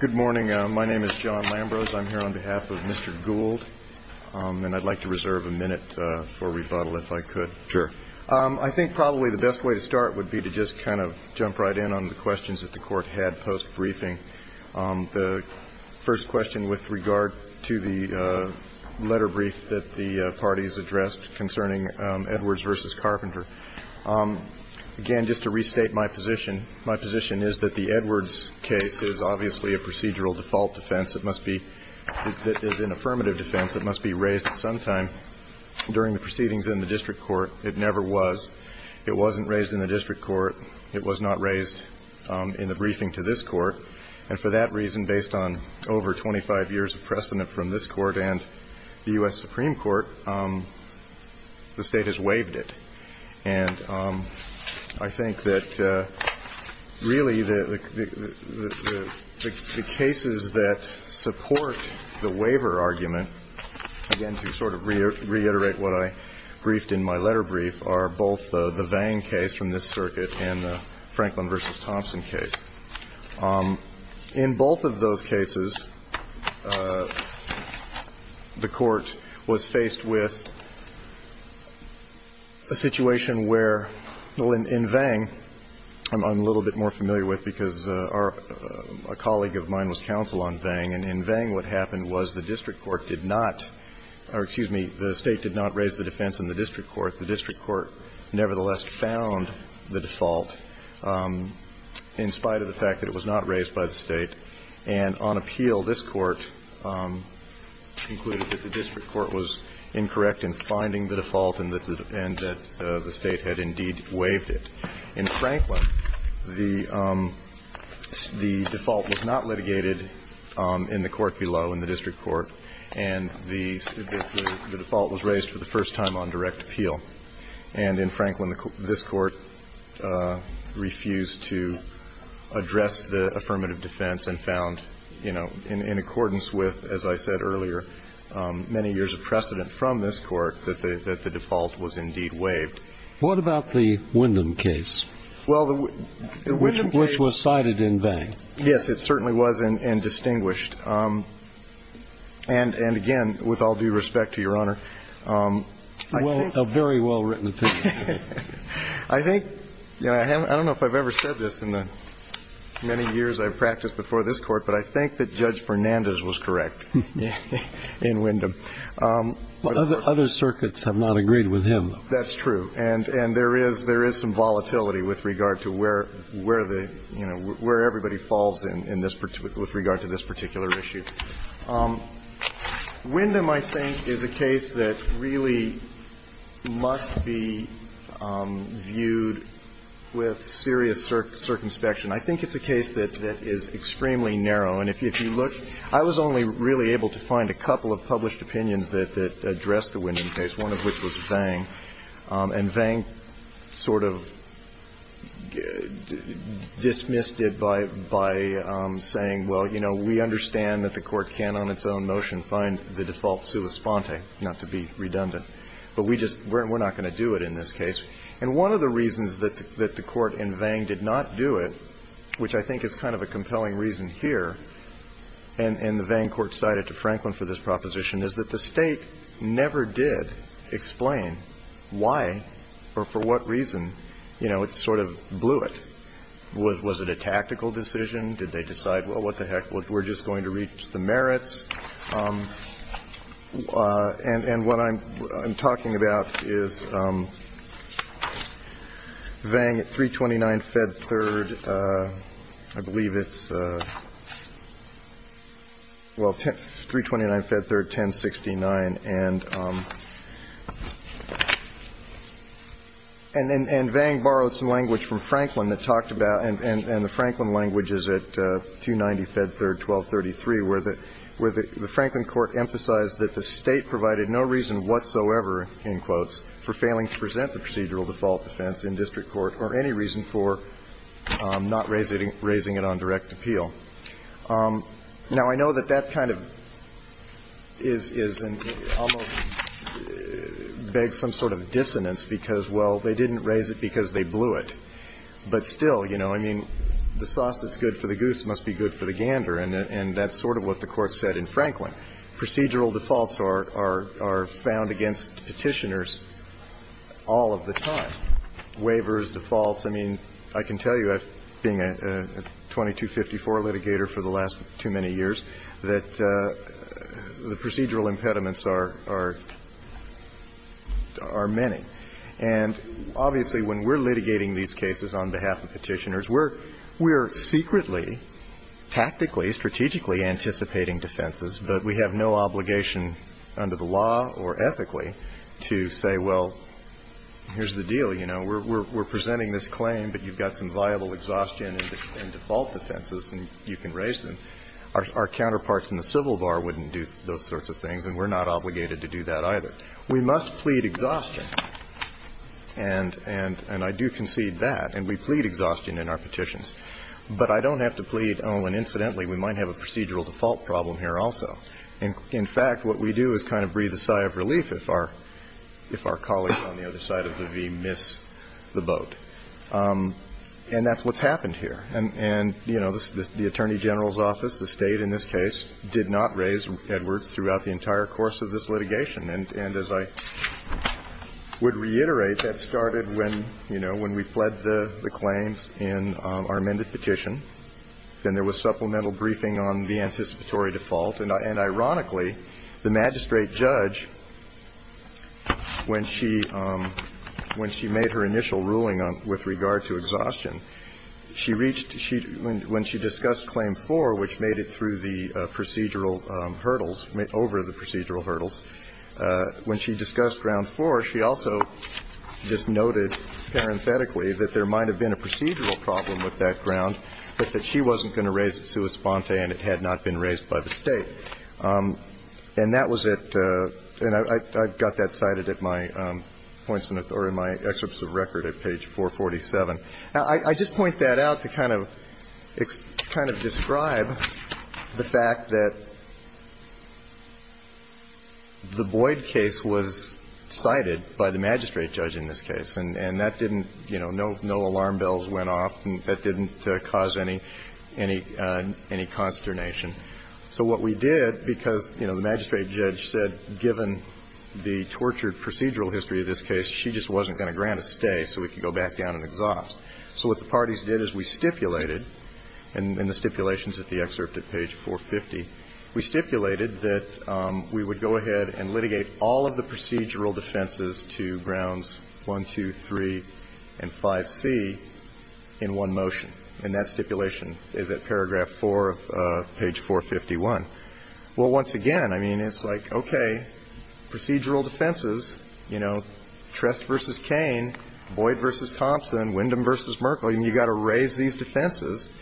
Good morning. My name is John Lambrose. I'm here on behalf of Mr. Gould, and I'd like to reserve a minute for rebuttal if I could. Sure. I think probably the best way to start would be to just kind of jump right in on the questions that the Court had post-briefing. The first question with regard to the letter brief that the parties addressed concerning Edwards v. Carpenter. Again, just to restate my position, my position is that the Edwards case is obviously a procedural default defense. It must be an affirmative defense. It must be raised at some time during the proceedings in the district court. It never was. It wasn't raised in the district court. It was not raised in the briefing to this Court. And for that reason, based on over 25 years of precedent from this Court and the U.S. Supreme Court, the State has waived it. And I think that really the cases that support the waiver argument, again, to sort of reiterate what I briefed in my letter brief, are both the Vang case from this circuit and the Franklin v. Thompson case. In both of those cases, the Court was faced with a situation where, well, in Vang, I'm a little bit more familiar with because a colleague of mine was counsel on Vang. And in Vang, what happened was the district court did not or, excuse me, the State did not raise the defense in the district court. The district court nevertheless found the default in spite of the fact that it was not raised by the State. And on appeal, this Court concluded that the district court was incorrect in finding the default and that the State had indeed waived it. In Franklin, the default was not litigated in the court below, in the district court, and the default was raised for the first time on direct appeal. And in Franklin, this Court refused to address the affirmative defense and found, you know, in accordance with, as I said earlier, many years of precedent from this Court that the default was indeed waived. What about the Wyndham case? Well, the Wyndham case was cited in Vang. Yes, it certainly was, and distinguished. And, again, with all due respect to Your Honor, I think that the district court was incorrect in finding the default. Well, a very well-written opinion. I think, you know, I don't know if I've ever said this in the many years I've practiced before this Court, but I think that Judge Fernandez was correct in Wyndham. Other circuits have not agreed with him. That's true. And there is some volatility with regard to where the, you know, where everybody falls with regard to this particular issue. Wyndham, I think, is a case that really must be viewed with serious circumspection. I think it's a case that is extremely narrow. And if you look, I was only really able to find a couple of published opinions that addressed the Wyndham case, one of which was Vang. And Vang sort of dismissed it by saying, well, you know, we understand that the Court can, on its own motion, find the default sua sponte, not to be redundant. But we just we're not going to do it in this case. And one of the reasons that the Court in Vang did not do it, which I think is kind of a compelling reason here, and the Vang court cited to Franklin for this proposition, is that the State never did explain why or for what reason, you know, it sort of blew it. Was it a tactical decision? Did they decide, well, what the heck, we're just going to reach the merits? And what I'm talking about is Vang at 329 Fed Third, I believe it's, well, 329 Fed Third, 1069. And Vang borrowed some language from Franklin that talked about, and the Franklin language is at 290 Fed Third, 1233, where the Franklin court emphasized that the State provided no reason whatsoever, in quotes, for failing to present the procedural default defense in district court or any reason for not raising it on direct appeal. Now, I know that that kind of is almost begs some sort of dissonance because, well, they didn't raise it because they blew it. But still, you know, I mean, the sauce that's good for the goose must be good for the gander, and that's sort of what the Court said in Franklin. Procedural defaults are found against Petitioners all of the time, waivers, defaults. I mean, I can tell you, being a 2254 litigator for the last too many years, that the procedural impediments are many. And obviously, when we're litigating these cases on behalf of Petitioners, we're secretly, tactically, strategically anticipating defenses, but we have no obligation under the law or ethically to say, well, here's the deal, you know, we're presenting this claim, but you've got some viable exhaustion in default defenses and you can raise them. Our counterparts in the civil bar wouldn't do those sorts of things, and we're not obligated to do that either. We must plead exhaustion, and I do concede that. And we plead exhaustion in our petitions. But I don't have to plead, oh, and incidentally, we might have a procedural default problem here also. In fact, what we do is kind of breathe a sigh of relief if our colleagues on the other side of the V miss the boat. And that's what's happened here. And, you know, the Attorney General's office, the State in this case, did not raise this issue with Mr. Edwards throughout the entire course of this litigation. And as I would reiterate, that started when, you know, when we fled the claims in our amended petition, and there was supplemental briefing on the anticipatory default. And ironically, the magistrate judge, when she made her initial ruling with regard to exhaustion, she reached, when she discussed Claim 4, which made it through the procedural hurdles, over the procedural hurdles. When she discussed Ground 4, she also just noted parenthetically that there might have been a procedural problem with that ground, but that she wasn't going to raise it sua sponte, and it had not been raised by the State. And that was at the – and I've got that cited at my points in authority, my excerpts of record at page 447. Now, I just point that out to kind of describe the fact that the Boyd case was cited by the magistrate judge in this case, and that didn't, you know, no alarm bells went off, and that didn't cause any consternation. So what we did, because, you know, the magistrate judge said given the tortured procedural history of this case, she just wasn't going to grant a stay so we could go back down and exhaust. So what the parties did is we stipulated, and in the stipulations at the excerpt at page 450, we stipulated that we would go ahead and litigate all of the procedural defenses to Grounds 1, 2, 3, and 5C in one motion, and that stipulation is at paragraph 4 of page 451. Well, once again, I mean, it's like, okay, procedural defenses, you know, Trest v. Cain, Boyd v. Thompson, Wyndham v. Merkley, and you've got to raise these defenses,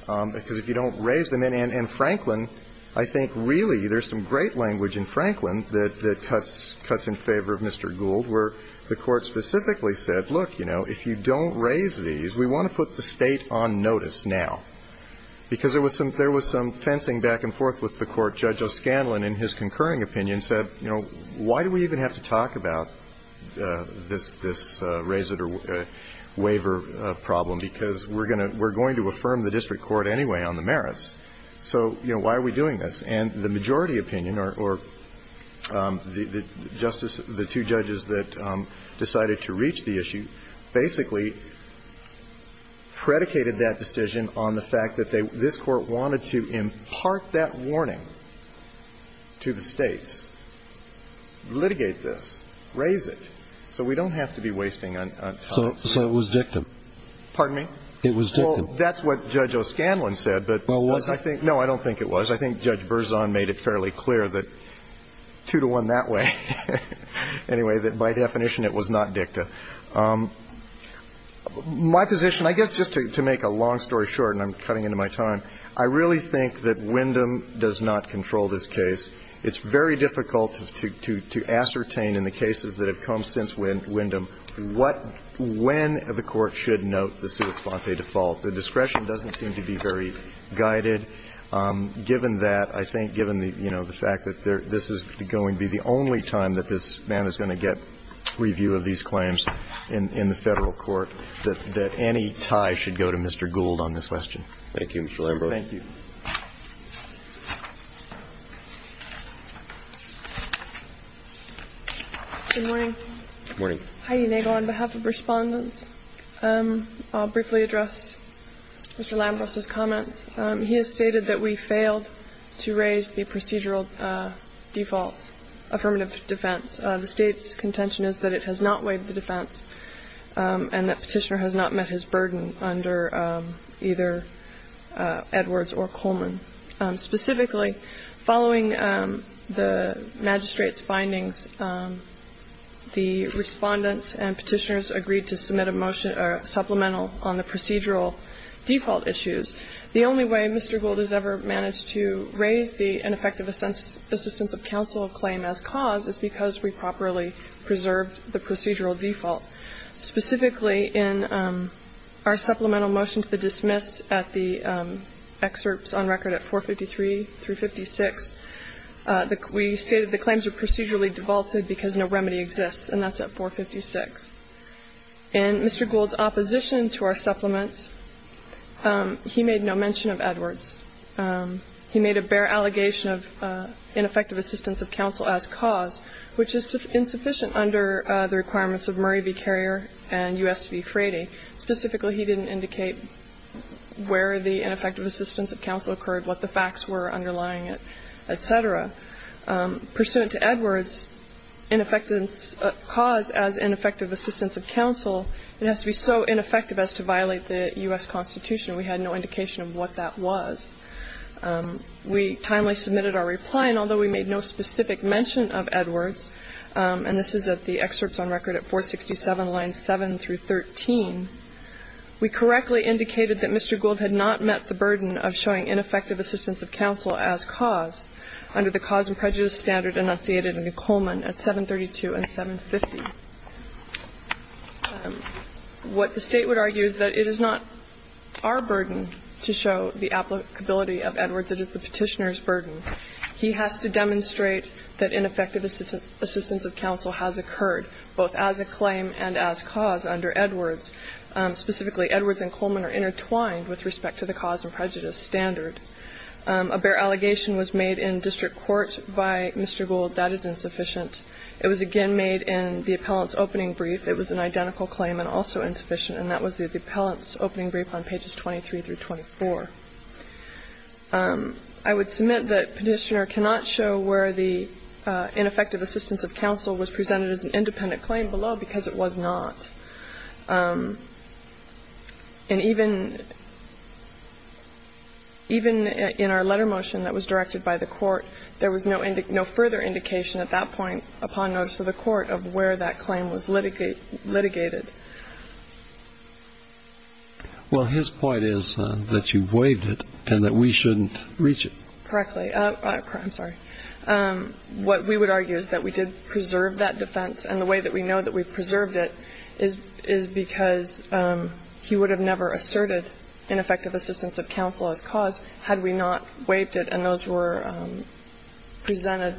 because if you don't raise them, and Franklin, I think really there's some great language in Franklin that cuts in favor of Mr. Gould, where the Court specifically said, look, you know, if you don't raise these, we want to put the State on notice now, because there was some fencing back and forth with the Court. Judge O'Scanlan, in his concurring opinion, said, you know, why do we even have to talk about this raise it or waiver problem, because we're going to affirm the district court anyway on the merits. So, you know, why are we doing this? And the majority opinion, or the two judges that decided to reach the issue, basically predicated that decision on the fact that this Court wanted to impart that warning to the States, litigate this, raise it, so we don't have to be wasting time. So it was dicta. Pardon me? It was dicta. Well, that's what Judge O'Scanlan said, but I think no, I don't think it was. I think Judge Berzon made it fairly clear that two to one that way, anyway, that by definition it was not dicta. My position, I guess just to make a long story short, and I'm cutting into my time, I really think that Wyndham does not control this case. It's very difficult to ascertain in the cases that have come since Wyndham what – when the Court should note the sua sponte default. The discretion doesn't seem to be very guided. Given that, I think, given the, you know, the fact that this is going to be the only time that this man is going to get review of these claims in the Federal Court, that any tie should go to Mr. Gould on this question. Thank you, Mr. Lambros. Thank you. Good morning. Good morning. Heidi Nagel on behalf of Respondents. I'll briefly address Mr. Lambros's comments. He has stated that we failed to raise the procedural default affirmative defense. The State's contention is that it has not waived the defense and that Petitioner has not met his burden under either Edwards or Coleman. Specifically, following the magistrate's findings, the Respondents and Petitioners agreed to submit a motion, a supplemental, on the procedural default issues. The only way Mr. Gould has ever managed to raise the ineffective assistance of counsel claim as cause is because we properly preserved the procedural default. Specifically, in our supplemental motion to the dismiss at the excerpts on record at 453 through 56, we stated the claims were procedurally defaulted because no remedy exists, and that's at 456. In Mr. Gould's opposition to our supplement, he made no mention of Edwards. He made a bare allegation of ineffective assistance of counsel as cause, which is insufficient under the requirements of Murray v. Carrier and U.S. v. Frady. Specifically, he didn't indicate where the ineffective assistance of counsel occurred, what the facts were underlying it, et cetera. Pursuant to Edwards, ineffective cause as ineffective assistance of counsel, it has to be so ineffective as to violate the U.S. Constitution. We had no indication of what that was. We timely submitted our reply, and although we made no specific mention of Edwards and this is at the excerpts on record at 467, lines 7 through 13, we correctly indicated that Mr. Gould had not met the burden of showing ineffective assistance of counsel as cause under the cause and prejudice standard enunciated in Coleman at 732 and 750. What the State would argue is that it is not our burden to show the applicability of Edwards, it is the Petitioner's burden. He has to demonstrate that ineffective assistance of counsel has occurred, both as a claim and as cause under Edwards. Specifically, Edwards and Coleman are intertwined with respect to the cause and prejudice standard. A bare allegation was made in district court by Mr. Gould. That is insufficient. It was again made in the appellant's opening brief. It was an identical claim and also insufficient, and that was the appellant's opening brief on pages 23 through 24. I would submit that Petitioner cannot show where the ineffective assistance of counsel was presented as an independent claim below because it was not. And even in our letter motion that was directed by the court, there was no further indication at that point upon notice of the court of where that claim was litigated. Well, his point is that you waived it and that we shouldn't reach it. Correctly. I'm sorry. What we would argue is that we did preserve that defense, and the way that we know that we've preserved it is because he would have never asserted ineffective assistance of counsel as cause had we not waived it and those were presented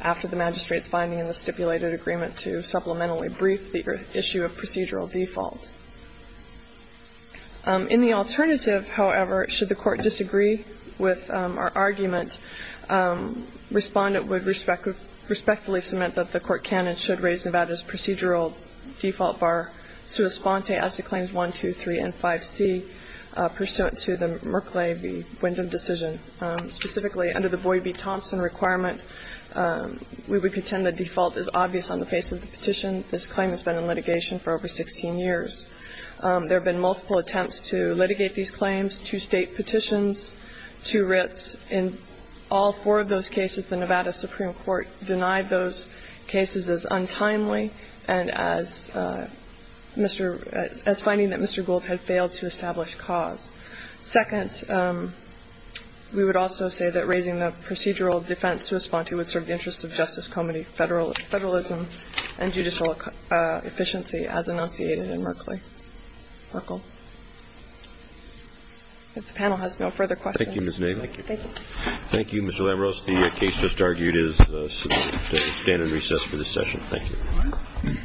after the magistrate's finding in the stipulated agreement to supplementarily brief the issue of procedural default. In the alternative, however, should the court disagree with our argument, Respondent would respectfully submit that the court can and should raise Nevada's procedural default bar sua sponte as to Claims 1, 2, 3, and 5C pursuant to the Merkley v. Windham decision. Specifically, under the Boyd v. Thompson requirement, we would contend the default is obvious on the face of the petition. This claim has been in litigation for over 16 years. There have been multiple attempts to litigate these claims, two State petitions, two writs. In all four of those cases, the Nevada Supreme Court denied those cases as untimely and as Mr. — as finding that Mr. Gould had failed to establish cause. Second, we would also say that raising the procedural defense sua sponte would serve the interests of Justice Comey federalism and judicial efficiency as enunciated in Merkley. If the panel has no further questions. Thank you, Ms. Naval. Thank you. Thank you, Mr. Lambros. The case just argued is to stand in recess for this session. Thank you. Thank you. Thank you. Thank you.